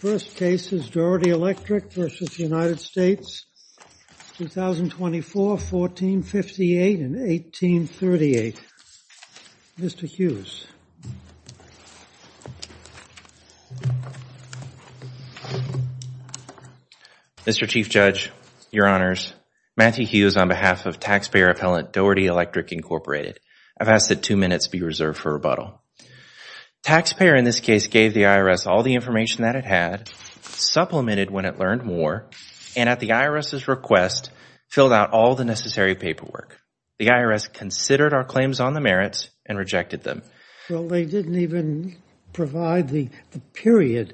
First case is Doherty Electric v. United States, 2024, 1458 and 1838. Mr. Hughes. Mr. Chief Judge, Your Honors, Matthew Hughes on behalf of taxpayer appellant Doherty Electric, Inc. I've asked that two minutes be reserved for rebuttal. Taxpayer in this case gave the IRS all the information that it had, supplemented when it learned more, and at the IRS's request filled out all the necessary paperwork. The IRS considered our claims on the merits and rejected them. Well, they didn't even provide the period,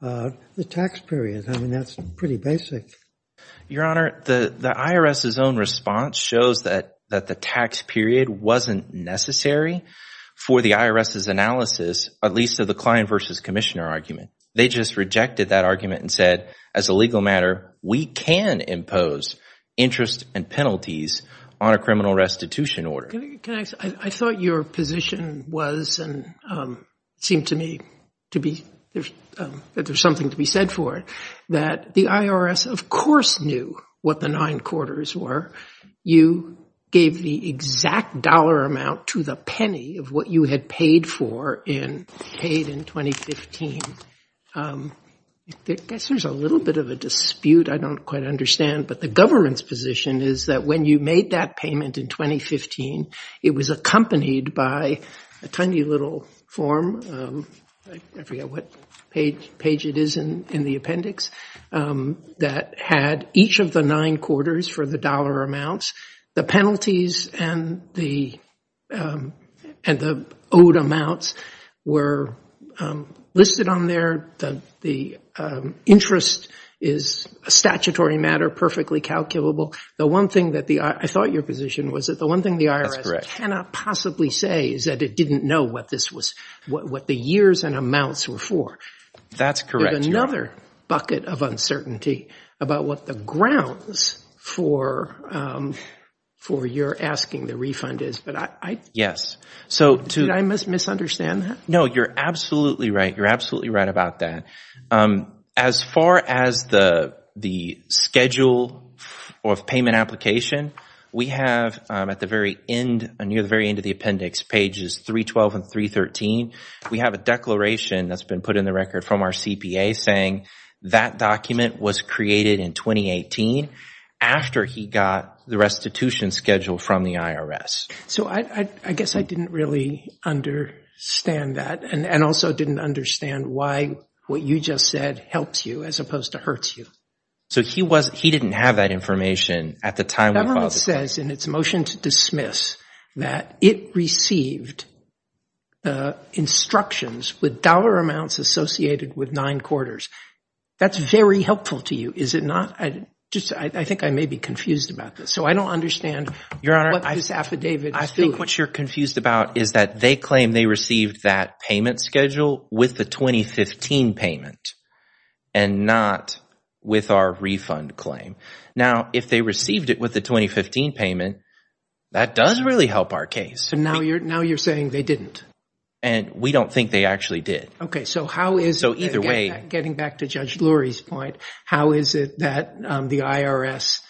the tax period. I mean, that's pretty basic. Your Honor, the IRS's own response shows that the tax period wasn't necessary the IRS's analysis, at least of the client versus commissioner argument. They just rejected that argument and said, as a legal matter, we can impose interest and penalties on a criminal restitution order. Can I ask, I thought your position was, and seemed to me to be, that there's something to be said for it, that the IRS of course knew what the nine quarters were. You gave the exact dollar amount to the penny of what you had paid in 2015. I guess there's a little bit of a dispute, I don't quite understand, but the government's position is that when you made that payment in 2015, it was accompanied by a tiny little form, I forget what page it is in the appendix, that had each of the nine quarters for the dollar amounts, the penalties and the owed amounts were listed on there. The interest is a statutory matter, perfectly calculable. I thought your position was that the one thing the IRS cannot possibly say is that it didn't know what the years and amounts were for. That's correct. I have another bucket of uncertainty about what the grounds for your asking the refund is. Did I misunderstand that? No, you're absolutely right. You're absolutely right about that. As far as the schedule of payment application, we have at the very end, near the very end of the appendix, pages 312 and 313, we have a declaration that's been put in the record from our CPA saying that document was created in 2018 after he got the restitution schedule from the IRS. I guess I didn't really understand that and also didn't understand why what you just said helps you as opposed to hurts you. He didn't have that information at the time. The government says in its motion to dismiss that it received instructions with dollar amounts associated with nine quarters. That's very helpful to you, is it not? I think I may be confused about this. I don't understand what this affidavit is doing. Your Honor, I think what you're confused about is that they claim they received that payment schedule with the 2015 payment and not with our refund claim. Now, if they received it with the 2015 payment, that does really help our case. Now you're saying they didn't? We don't think they actually did. How is it, getting back to Judge Lurie's point, how is it that the IRS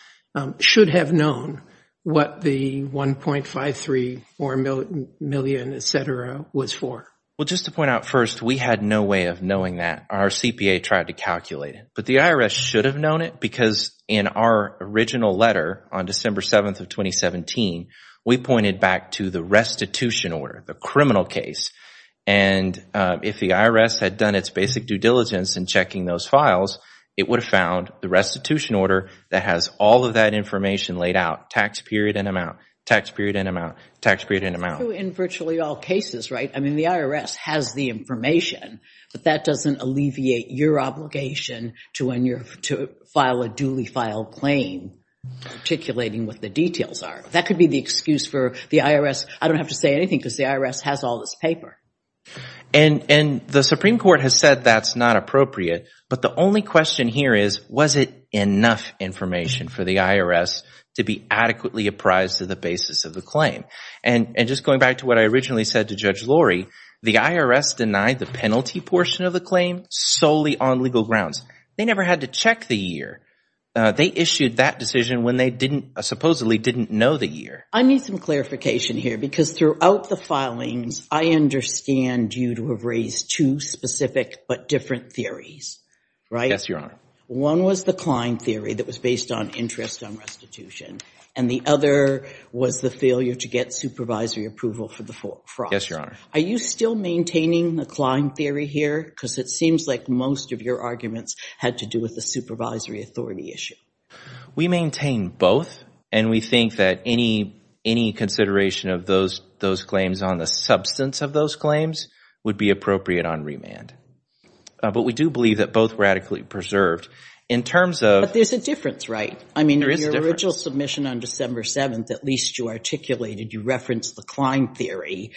should have known what the $1.53 million, et cetera, was for? Just to point out first, we had no way of knowing that. Our CPA tried to calculate it. The IRS should have known it because in our original letter on December 7th of 2017, we pointed back to the restitution order, the criminal case. If the IRS had done its basic due diligence in checking those files, it would have found the restitution order that has all of that information laid out, tax period and amount, tax period and amount, tax period and amount. In virtually all cases, right? I mean, the IRS has the information, but that doesn't alleviate your obligation to file a duly filed claim, articulating what the details are. That could be the excuse for the IRS. I don't have to say anything because the IRS has all this paper. The Supreme Court has said that's not appropriate, but the only question here is, was it enough information for the IRS to be adequately apprised to the basis of the claim? Just going back to what I originally said to Judge Lurie, the IRS denied the penalty portion of the claim solely on legal grounds. They never had to check the year. They issued that decision when they supposedly didn't know the year. I need some clarification here because throughout the filings, I understand you to have raised two specific but different theories, right? Yes, Your Honor. One was the Klein theory that was based on interest on restitution, and the other was the failure to get supervisory approval for the fraud. Yes, Your Honor. Are you still maintaining the Klein theory here? Because it seems like most of your arguments had to do with the supervisory authority issue. We maintain both, and we think that any consideration of those claims on the substance of those claims would be appropriate on remand. But we do believe that both were adequately preserved. In terms of— But there's a difference, right? There is a difference. I mean, in your original submission on December 7th, at least you articulated, you referenced the Klein theory,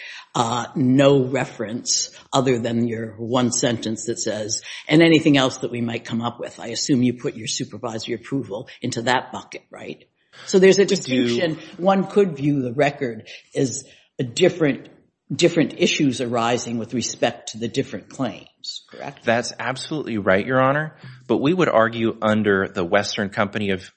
no reference other than your one sentence that says, and anything else that we might come up with. I assume you put your supervisory approval into that bucket, right? I do. So there's a distinction. One could view the record as different issues arising with respect to the different claims, correct? That's absolutely right, Your Honor. But we would argue under the Western Company of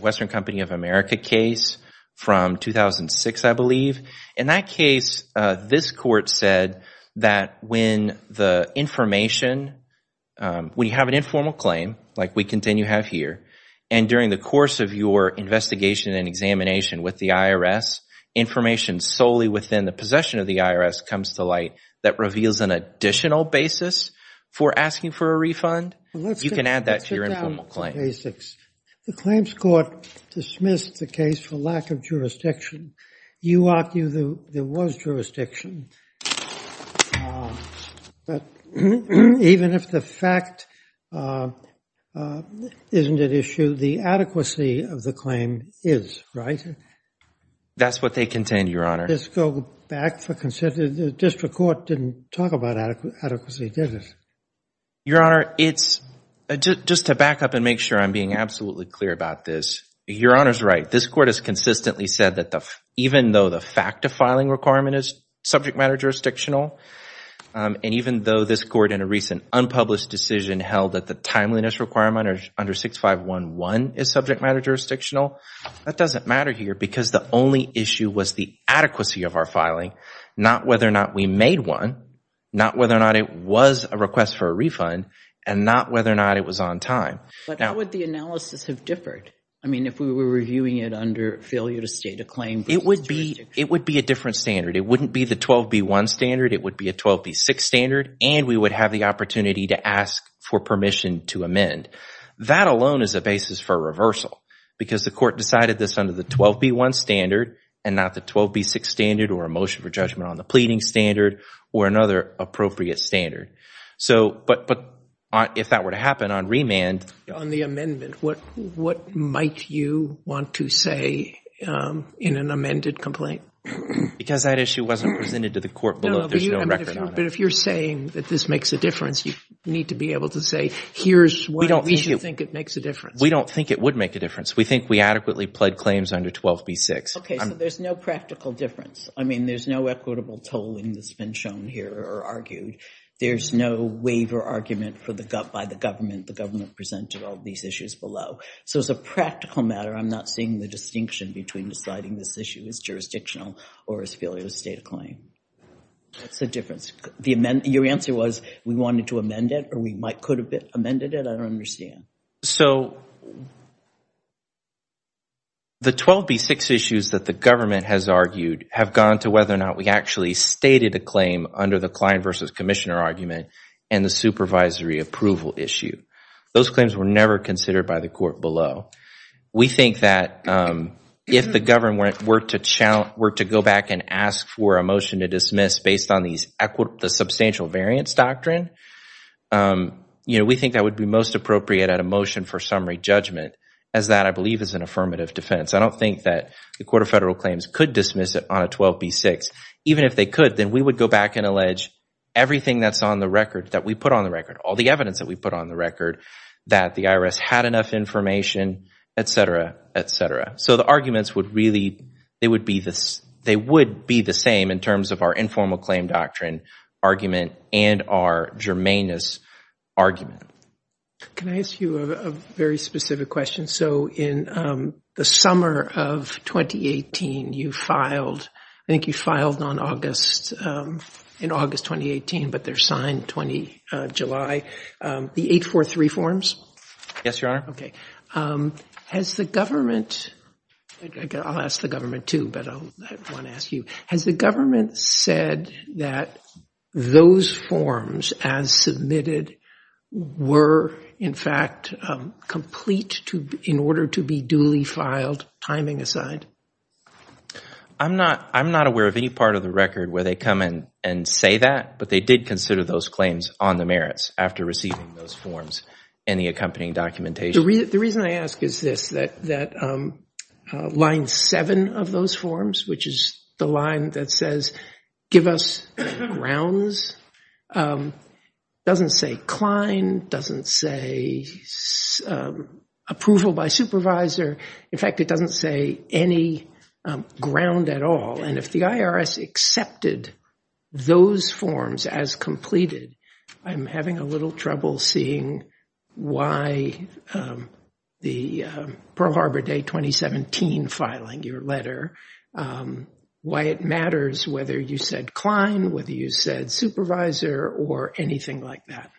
America case from 2006, I believe. In that case, this court said that when the information—when you have an informal claim, like we continue to have here, and during the course of your investigation and examination with the IRS, information solely within the possession of the IRS comes to light that reveals an additional basis for asking for a refund, you can add that to your informal claim. Basics. The claims court dismissed the case for lack of jurisdiction. You argue there was jurisdiction. But even if the fact isn't at issue, the adequacy of the claim is, right? That's what they contend, Your Honor. Let's go back for consent. The district court didn't talk about adequacy, did it? Your Honor, it's—just to back up and make sure I'm being absolutely clear about this, Your Honor's right. This court has consistently said that even though the fact of filing requirement is subject matter jurisdictional, and even though this court in a recent unpublished decision held that the timeliness requirement under 6511 is subject matter jurisdictional, that doesn't matter here because the only issue was the adequacy of our filing, not whether or not we made one, not whether or not it was a request for a refund, and not whether or not it was on time. But how would the analysis have differed? I mean, if we were reviewing it under failure to state a claim— It would be a different standard. It wouldn't be the 12B1 standard. It would be a 12B6 standard, and we would have the opportunity to ask for permission to amend. That alone is a basis for reversal because the court decided this under the 12B1 standard and not the 12B6 standard or a motion for judgment on the pleading standard or another appropriate standard. But if that were to happen on remand— On the amendment, what might you want to say in an amended complaint? Because that issue wasn't presented to the court below. There's no record on that. But if you're saying that this makes a difference, you need to be able to say, here's what we should think it makes a difference. We don't think it would make a difference. We think we adequately pled claims under 12B6. Okay, so there's no practical difference. I mean, there's no equitable tolling that's been shown here or argued. There's no waiver argument by the government. The government presented all these issues below. So as a practical matter, I'm not seeing the distinction between deciding this issue is jurisdictional or is failure to state a claim. What's the difference? Your answer was we wanted to amend it or we could have amended it? I don't understand. So the 12B6 issues that the government has argued have gone to whether or not we actually stated a claim under the client versus commissioner argument and the supervisory approval issue. Those claims were never considered by the court below. We think that if the government were to go back and ask for a motion to dismiss based on the substantial variance doctrine, you know, we think that would be most appropriate at a motion for summary judgment as that, I believe, is an affirmative defense. I don't think that the Court of Federal Claims could dismiss it on a 12B6. Even if they could, then we would go back and allege everything that's on the record, that we put on the record, all the evidence that we put on the record, that the IRS had enough information, et cetera, et cetera. So the arguments would really, they would be the same in terms of our informal claim doctrine argument and our germaneness argument. Can I ask you a very specific question? So in the summer of 2018, you filed, I think you filed on August, in August 2018, but they're signed July, the 843 forms? Yes, Your Honor. Okay. Has the government, I'll ask the government too, but I want to ask you, has the government said that those forms as submitted were, in fact, complete in order to be duly filed, timing aside? I'm not, I'm not aware of any part of the record where they come in and say that, but they did consider those claims on the merits after receiving those forms and the accompanying documentation. The reason I ask is this, that line seven of those forms, which is the line that says, give us grounds, doesn't say Klein, doesn't say approval by supervisor. In fact, it doesn't say any ground at all. And if the IRS accepted those forms as completed, I'm having a little trouble seeing why the Pearl Harbor Day 2017 filing, your letter, why it matters whether you said Klein, whether you said supervisor or anything like that.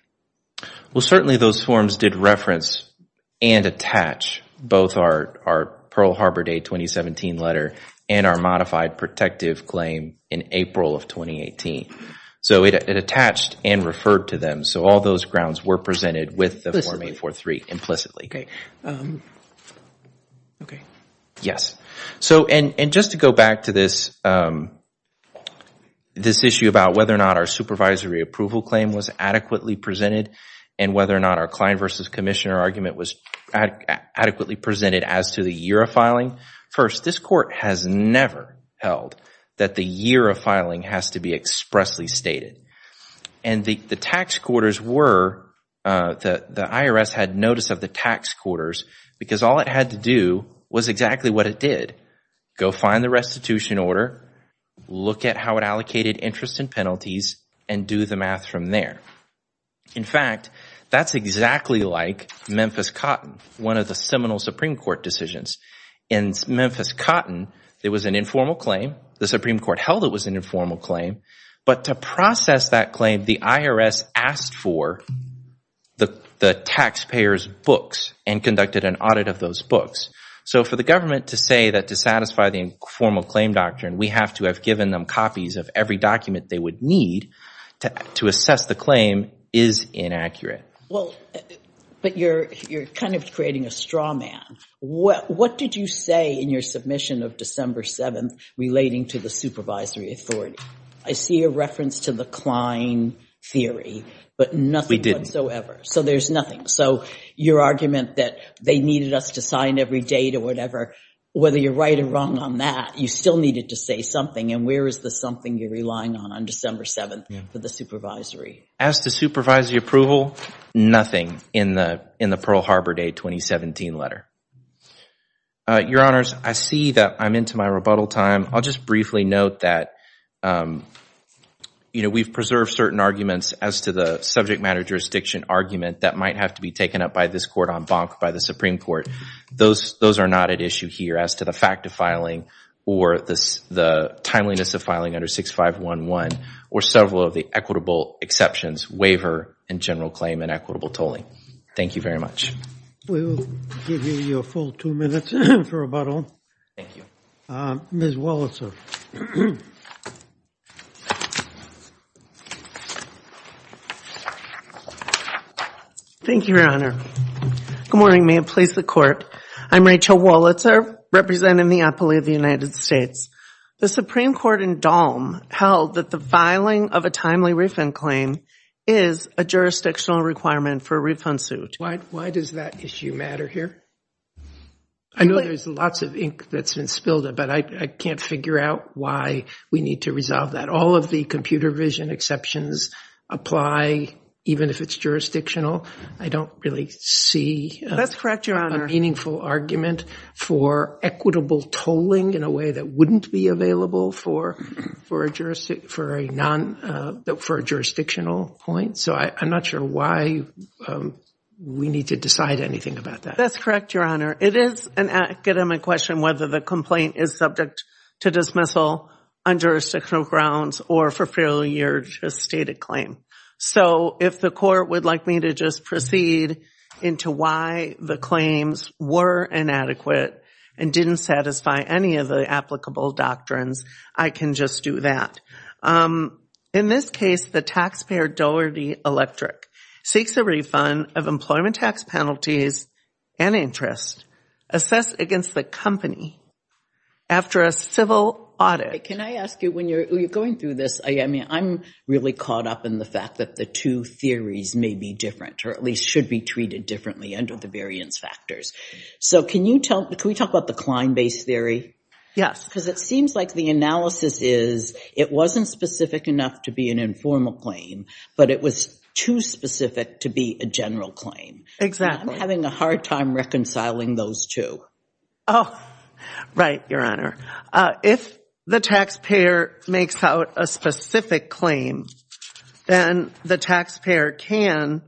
Well, certainly those forms did reference and attach both our Pearl Harbor Day 2017 letter and our modified protective claim in April of 2018. So it attached and referred to them. So all those grounds were presented with the Form 843 implicitly. Okay. Okay. Yes. So, and just to go back to this issue about whether or not our supervisory approval claim was adequately presented and whether or not our Klein versus Commissioner argument was adequately presented as to the year of filing. First, this court has never held that the year of filing has to be expressly stated. And the tax quarters were, the IRS had notice of the tax quarters because all it had to do was exactly what it did. Go find the restitution order, look at how it allocated interest and penalties, and do the math from there. In fact, that's exactly like Memphis Cotton, one of the seminal Supreme Court decisions. In Memphis Cotton, there was an informal claim. The Supreme Court held it was an informal claim. But to process that claim, the IRS asked for the taxpayers books and conducted an audit of those books. So for the government to say that to satisfy the informal claim doctrine, we have to given them copies of every document they would need to assess the claim is inaccurate. Well, but you're kind of creating a straw man. What did you say in your submission of December 7th relating to the supervisory authority? I see a reference to the Klein theory, but nothing whatsoever. So there's nothing. So your argument that they needed us to sign every date or whatever, whether you're right or wrong on that, you still needed to say something, and where is the something you're relying on on December 7th for the supervisory? As to supervisory approval, nothing in the Pearl Harbor Day 2017 letter. Your Honors, I see that I'm into my rebuttal time. I'll just briefly note that we've preserved certain arguments as to the subject matter jurisdiction argument that might have to be taken up by this court on bonk by the Supreme Court. Those are not at issue here as to the fact of filing or the timeliness of filing under 6511 or several of the equitable exceptions, waiver and general claim and equitable tolling. Thank you very much. We will give you your full two minutes for rebuttal. Thank you. Ms. Wolitzer. Thank you, Your Honor. Good morning. May it please the Court. I'm Rachel Wolitzer, representing the Appellee of the United States. The Supreme Court in Dalm held that the filing of a timely refund claim is a jurisdictional requirement for a refund suit. Why does that issue matter here? I know there's lots of ink that's been spilled, but I can't figure out why we need to resolve that. All of the computer vision exceptions apply even if it's jurisdictional. I don't really see a meaningful argument for equitable tolling in a way that wouldn't be available for a jurisdictional point. I'm not sure why we need to decide anything about that. That's correct, Your Honor. It is an academic question whether the complaint is subject to dismissal on jurisdictional grounds or for failure to state a claim. If the Court would like me to just proceed into why the claims were inadequate and didn't satisfy any of the applicable doctrines, I can just do that. In this case, the taxpayer, Doherty Electric, seeks a refund of employment tax penalties and interest assessed against the company after a civil audit. Can I ask you, when you're going through this, I'm really caught up in the fact that the two theories may be different or at least should be treated differently under the variance factors. Can we talk about the Klein-based theory? Yes. Because it seems like the analysis is it wasn't specific enough to be an informal claim, but it was too specific to be a general claim. Exactly. I'm having a hard time reconciling those two. Right, Your Honor. If the taxpayer makes out a specific claim, then the taxpayer can,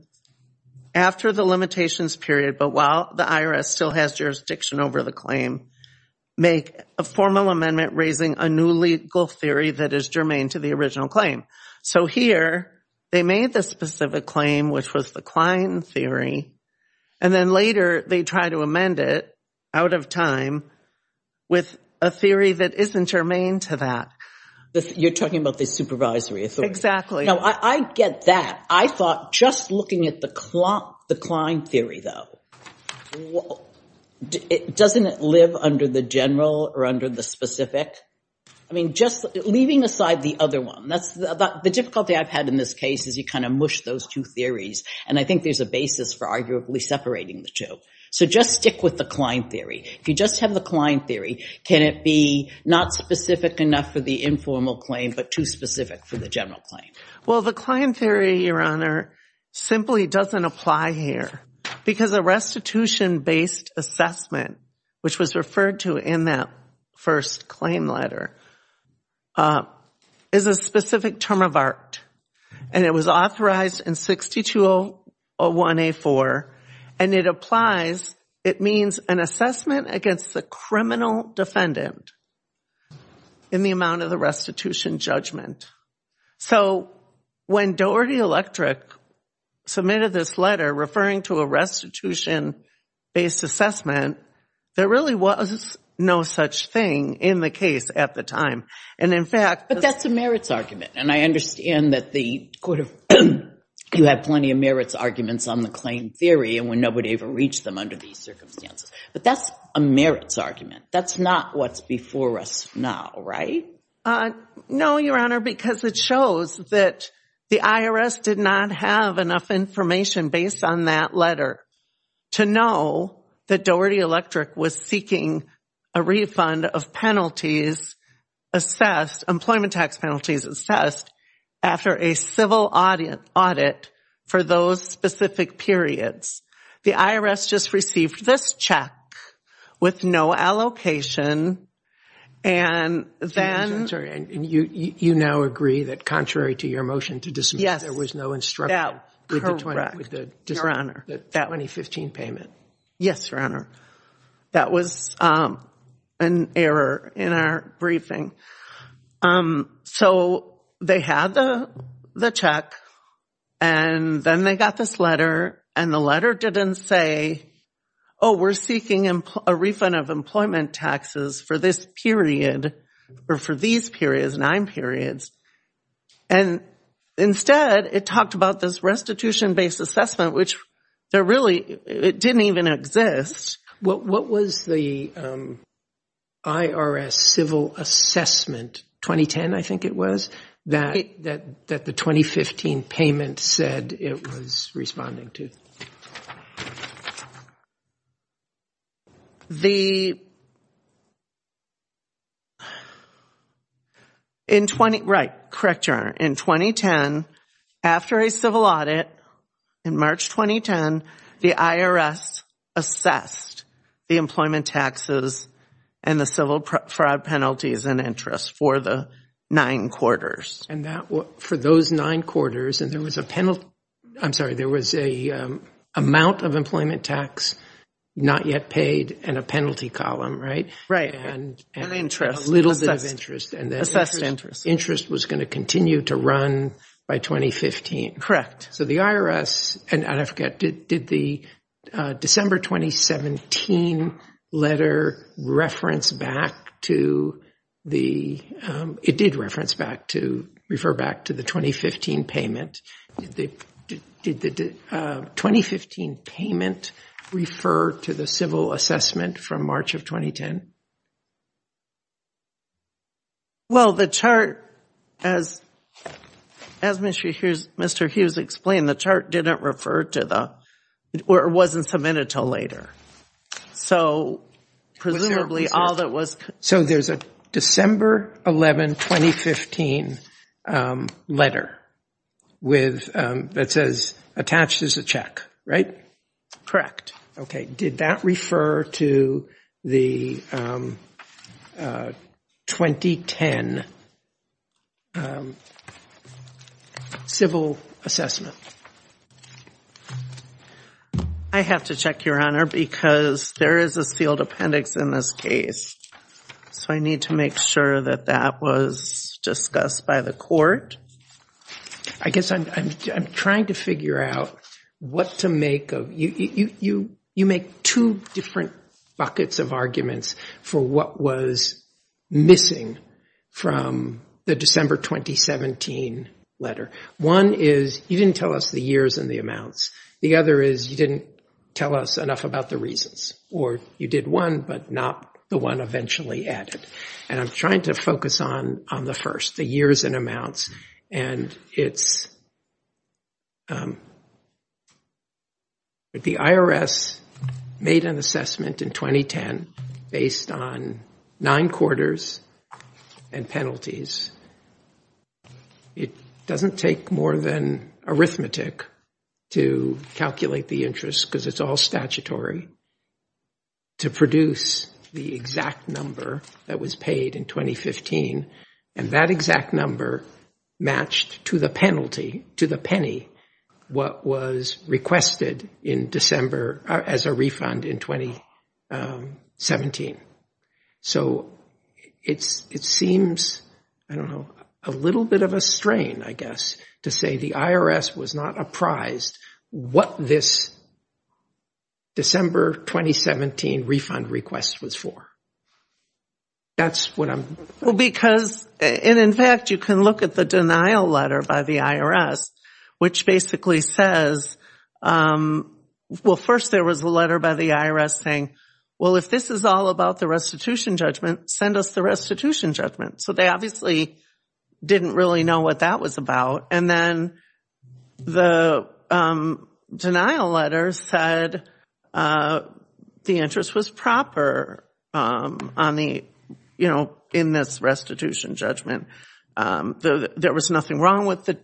after the limitations period, but while the IRS still has jurisdiction over the claim, make a formal amendment raising a new legal theory that is germane to the original claim. Here, they made the specific claim, which was the Klein theory, and then later they try to amend it out of time with a theory that isn't germane to that. You're talking about the supervisory authority. Exactly. Now, I get that. I thought just looking at the Klein theory, though, doesn't it live under the general or under the specific? I mean, just leaving aside the other one. The difficulty I've had in this case is you kind of mush those two theories, and I think there's a basis for arguably separating the two. So just stick with the Klein theory. If you just have the Klein theory, can it be not specific enough for the informal claim, but too specific for the general claim? Well, the Klein theory, Your Honor, simply doesn't apply here because a restitution-based assessment, which was referred to in that first claim letter, is a specific term of art, and it was authorized in 6201A4, and it applies. It means an assessment against the criminal defendant in the amount of the restitution judgment. So when Doherty Electric submitted this letter referring to a restitution-based assessment, there really was no such thing in the case at the time, and in fact... But that's a merits argument, and I understand that you have plenty of merits arguments on the Klein theory, and when nobody ever reached them under these circumstances, but that's a merits argument. That's not what's before us now, right? No, Your Honor, because it shows that the IRS did not have enough information based on that letter to know that Doherty Electric was seeking a refund of penalties assessed, employment tax penalties assessed, after a civil audit for those specific periods. The IRS just received this check with no allocation, and then... And you now agree that contrary to your motion to dismiss, there was no instruction with the 2015 payment? Yes, Your Honor. That was an error in our briefing. So they had the check, and then they got this letter, and the letter didn't say, oh, we're seeking a refund of employment taxes for this period, or for these periods, nine periods. And instead, it talked about this restitution-based assessment, which really, it didn't even exist. What was the IRS civil assessment, 2010, I think it was, that the 2015 payment said it was responding to? Correct, Your Honor. In 2010, after a civil audit, in March 2010, the IRS assessed the employment taxes and the civil fraud penalties and interest for the nine quarters. And for those nine quarters, and there was a penalty, I'm sorry, there was an amount of employment tax not yet paid, and a penalty column, right? Right. And interest. A little bit of interest. Assessed interest. Interest was going to continue to run by 2015. Correct. So the IRS, and I forget, did the December 2017 letter reference back to the, it did reference back to, refer back to the 2015 payment. Did the 2015 payment refer to the civil assessment from March of 2010? Well, the chart, as Mr. Hughes explained, the chart didn't refer to the, or it wasn't submitted until later. So, presumably, all that was. So there's a December 11, 2015 letter with, that says, attached as a check, right? Correct. Okay. Did that refer to the 2010 civil assessment? I have to check, Your Honor, because there is a sealed appendix in this case. So I need to make sure that that was discussed by the court. I guess I'm trying to figure out what to make of, you make two different buckets of arguments for what was missing from the December 2017 letter. One is, you didn't tell us the years and the amounts. The other is, you didn't tell us enough about the reasons. Or you did one, but not the one eventually added. And I'm trying to focus on the first, the years and amounts. And it's, the IRS made an assessment in 2010 based on nine quarters and penalties. It doesn't take more than arithmetic to calculate the interest, because it's all statutory, to produce the exact number that was paid in 2015. And that exact number matched to the penalty, to the penny, what was requested in December as a refund in 2017. So it seems, I don't know, a little bit of a strain, I guess, to say the IRS was not apprised what this December 2017 refund request was for. That's what I'm... Well, because, and in fact, you can look at the denial letter by the IRS, which basically says, well, first there was a letter by the IRS saying, well, if this is all about the restitution judgment, send us the restitution judgment. So they obviously didn't really know what that was about. And then the denial letter said the interest was proper on the, in this restitution judgment. There was nothing wrong with the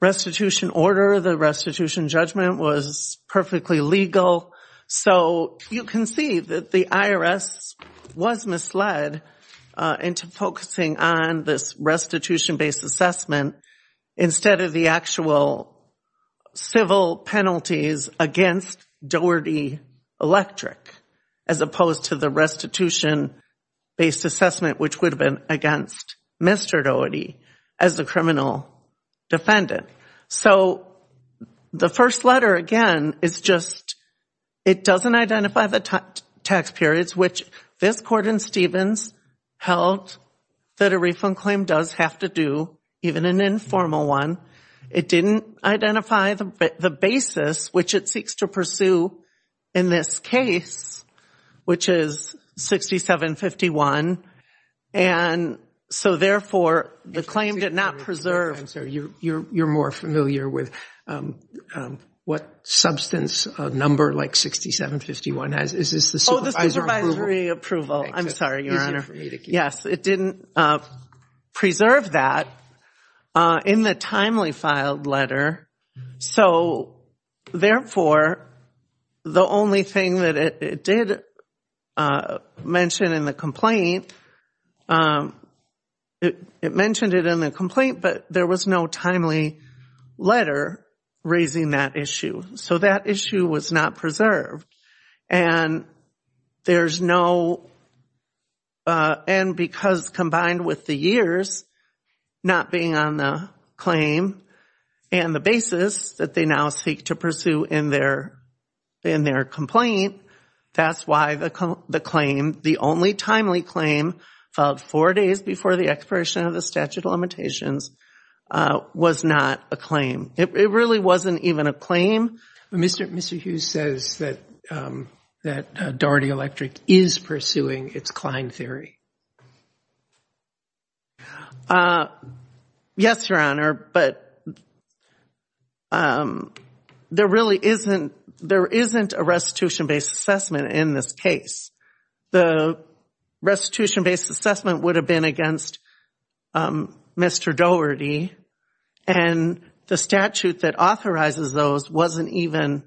restitution order. The restitution judgment was perfectly legal. So you can see that the IRS was misled into focusing on this restitution based assessment instead of the actual civil penalties against Doherty Electric, as opposed to the restitution based assessment, which would have been against Mr. Doherty as the criminal defendant. So the first letter, again, is just, it doesn't identify the tax periods, which this Gordon-Stevens held that a refund claim does have to do, even an informal one. It didn't identify the basis, which it seeks to pursue in this case, which is 6751. And so therefore, the claim did not preserve... I'm sorry, you're more familiar with what substance a number like 6751 has. Oh, the supervisory approval. I'm sorry, Your Honor. Yes, it didn't preserve that in the timely filed letter. So therefore, the only thing that it did mention in the complaint, it mentioned it in the complaint, but there was no timely letter raising that issue. So that issue was not preserved. And there's no... And because combined with the years not being on the claim and the basis that they now seek to pursue in their complaint, that's why the claim, the only timely claim of four days before the expiration of the statute of limitations, was not a claim. It really wasn't even a claim. Mr. Hughes says that Doherty Electric is pursuing its Klein theory. Yes, Your Honor, but there really isn't a restitution-based assessment in this case. The restitution-based assessment would have been against Mr. Doherty and the statute that authorizes those wasn't even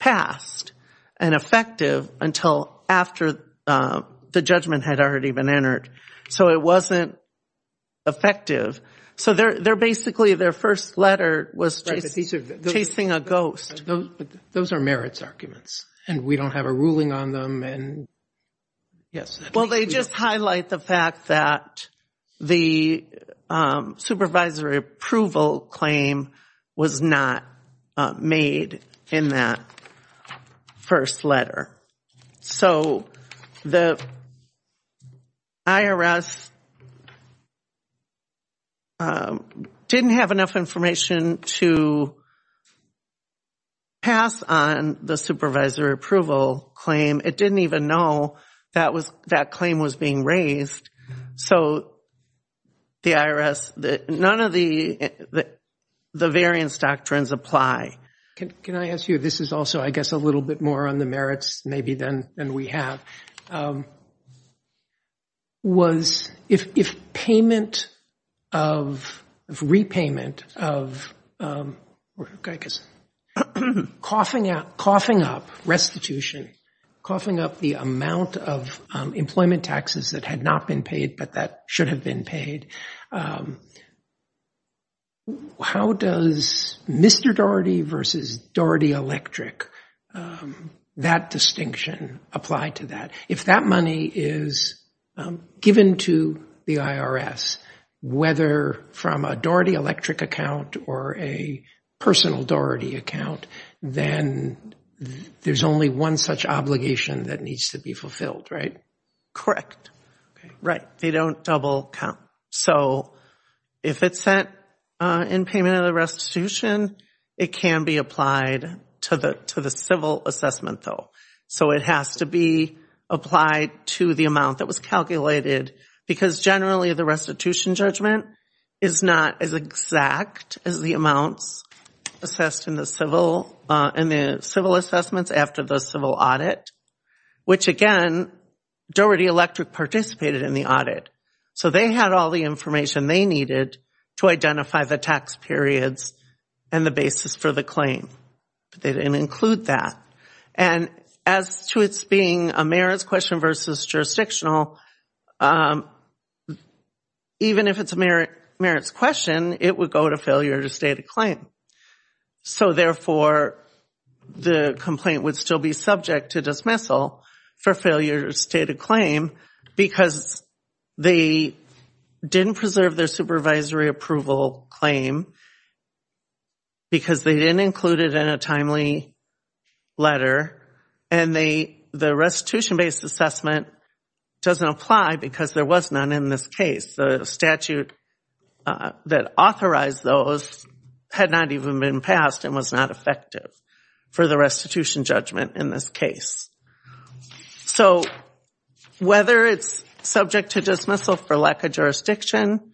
passed and effective until after the judgment had already been entered. So it wasn't effective. So they're basically, their first letter was chasing a ghost. Those are merits arguments and we don't have a ruling on them. Well, they just highlight the fact that the supervisory approval claim was not made in that first letter. So the IRS didn't have enough information to pass on the supervisory approval claim. It didn't even know that claim was being raised. So the IRS, none of the variance doctrines apply. Can I ask you, this is also, I guess, a little bit more on the merits maybe than we have. If payment of, if repayment of, I guess, coughing up restitution, coughing up the amount of employment taxes that had not been paid, but that should have been paid, how does Mr. Doherty versus Doherty Electric, that distinction apply to that? If that money is given to the IRS, whether from a Doherty Electric account or a personal Doherty account, then there's only one such obligation that needs to be fulfilled, right? Correct. Right. They don't double count. So if it's sent in payment of the restitution, it can be applied to the civil assessment though. So it has to be applied to the amount that was calculated because generally the restitution judgment is not as exact as the amounts assessed in the civil assessments after the civil audit, which again, Doherty Electric participated in the audit. So they had all the information they needed to identify the tax periods and the basis for the claim, but they didn't include that. And as to its being a merits question versus jurisdictional, even if it's a merits question, it would go to failure to state a claim. So therefore the complaint would still be subject to dismissal for failure to state a claim because they didn't preserve their supervisory approval claim because they didn't include it in a timely letter and the restitution-based assessment doesn't apply because there was none in this case. The statute that authorized those had not even been passed and was not effective for the restitution judgment in this case. So whether it's subject to dismissal for lack of jurisdiction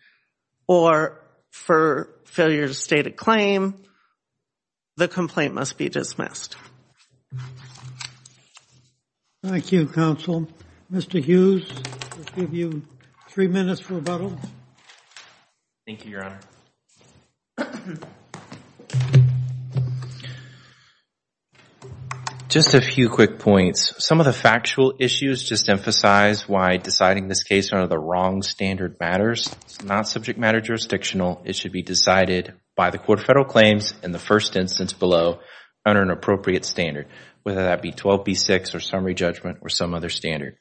or for failure to state a claim, the complaint must be dismissed. Thank you, counsel. Mr. Hughes, I'll give you three minutes for rebuttal. Thank you, Your Honor. Just a few quick points. Some of the factual issues just emphasize why deciding this case under the wrong standard matters. It's not subject matter jurisdictional. It should be decided by the court of federal claims in the first instance below under an appropriate standard, whether that be 12B6 or summary judgment or some other standard.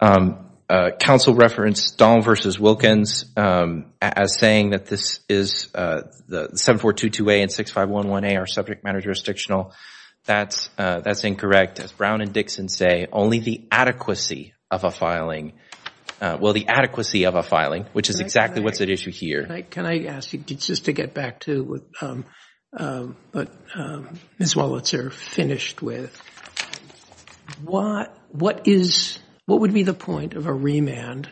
Counsel referenced Dahl v. Wilkins as saying that this is the 7422A and 6511A are subject matter jurisdictional. That's incorrect. As Brown and Dixon say, only the adequacy of a filing, well, the adequacy of a filing, which is exactly what's at issue here. Can I ask you just to get back to what Ms. Wolitzer finished with? What would be the point of a remand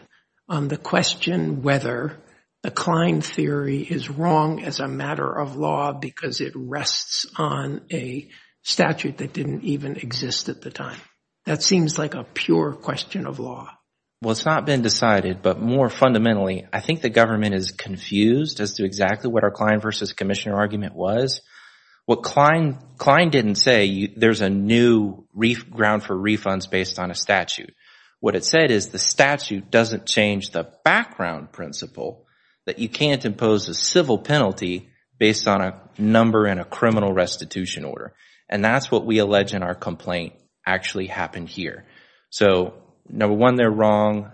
on the question whether the Klein theory is wrong as a matter of law because it rests on a statute that didn't even exist at the time? That seems like a pure question of law. Well, it's not been decided, but more fundamentally, I think the government is confused as to exactly what our Klein v. Commissioner argument was. What Klein didn't say, there's a new ground for refunds based on a statute. What it said is the statute doesn't change the background principle that you can't impose a civil penalty based on a number in a criminal restitution order. That's what we allege in our complaint actually happened here. So number one, they're wrong.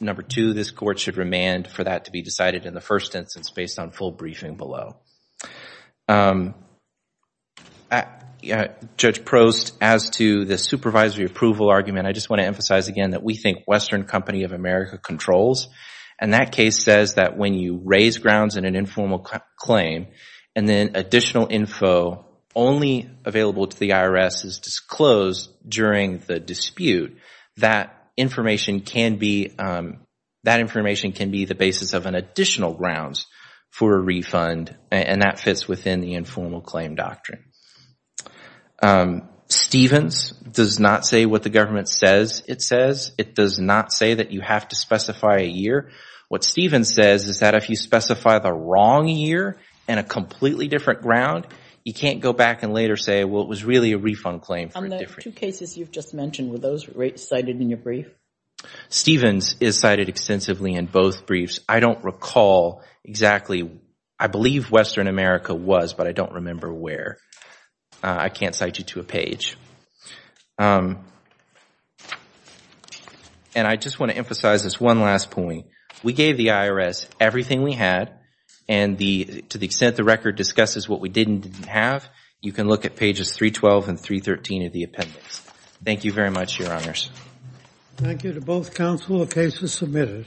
Number two, this court should remand for that to be decided in the first instance based on full briefing below. Judge Prost, as to the supervisory approval argument, I just want to emphasize again that we think Western Company of America controls. And that case says that when you raise grounds in an informal claim and then additional info only available to the IRS is disclosed during the dispute, that information can be the basis of an additional grounds for a refund and that fits within the informal claim doctrine. Stevens does not say what the government says it says. It does not say that you have to specify a year. What Stevens says is that if you specify the wrong year and a completely different ground, you can't go back and later say, well, it was really a refund claim. On the two cases you've just mentioned, were those cited in your brief? Stevens is cited extensively in both briefs. I don't recall exactly. I believe Western America was, but I don't remember where. I can't cite you to a page. And I just want to emphasize this one last point. We gave the IRS everything we had and to the have, you can look at pages 312 and 313 of the appendix. Thank you very much, Your Honors. Thank you to both counsel. The case is submitted.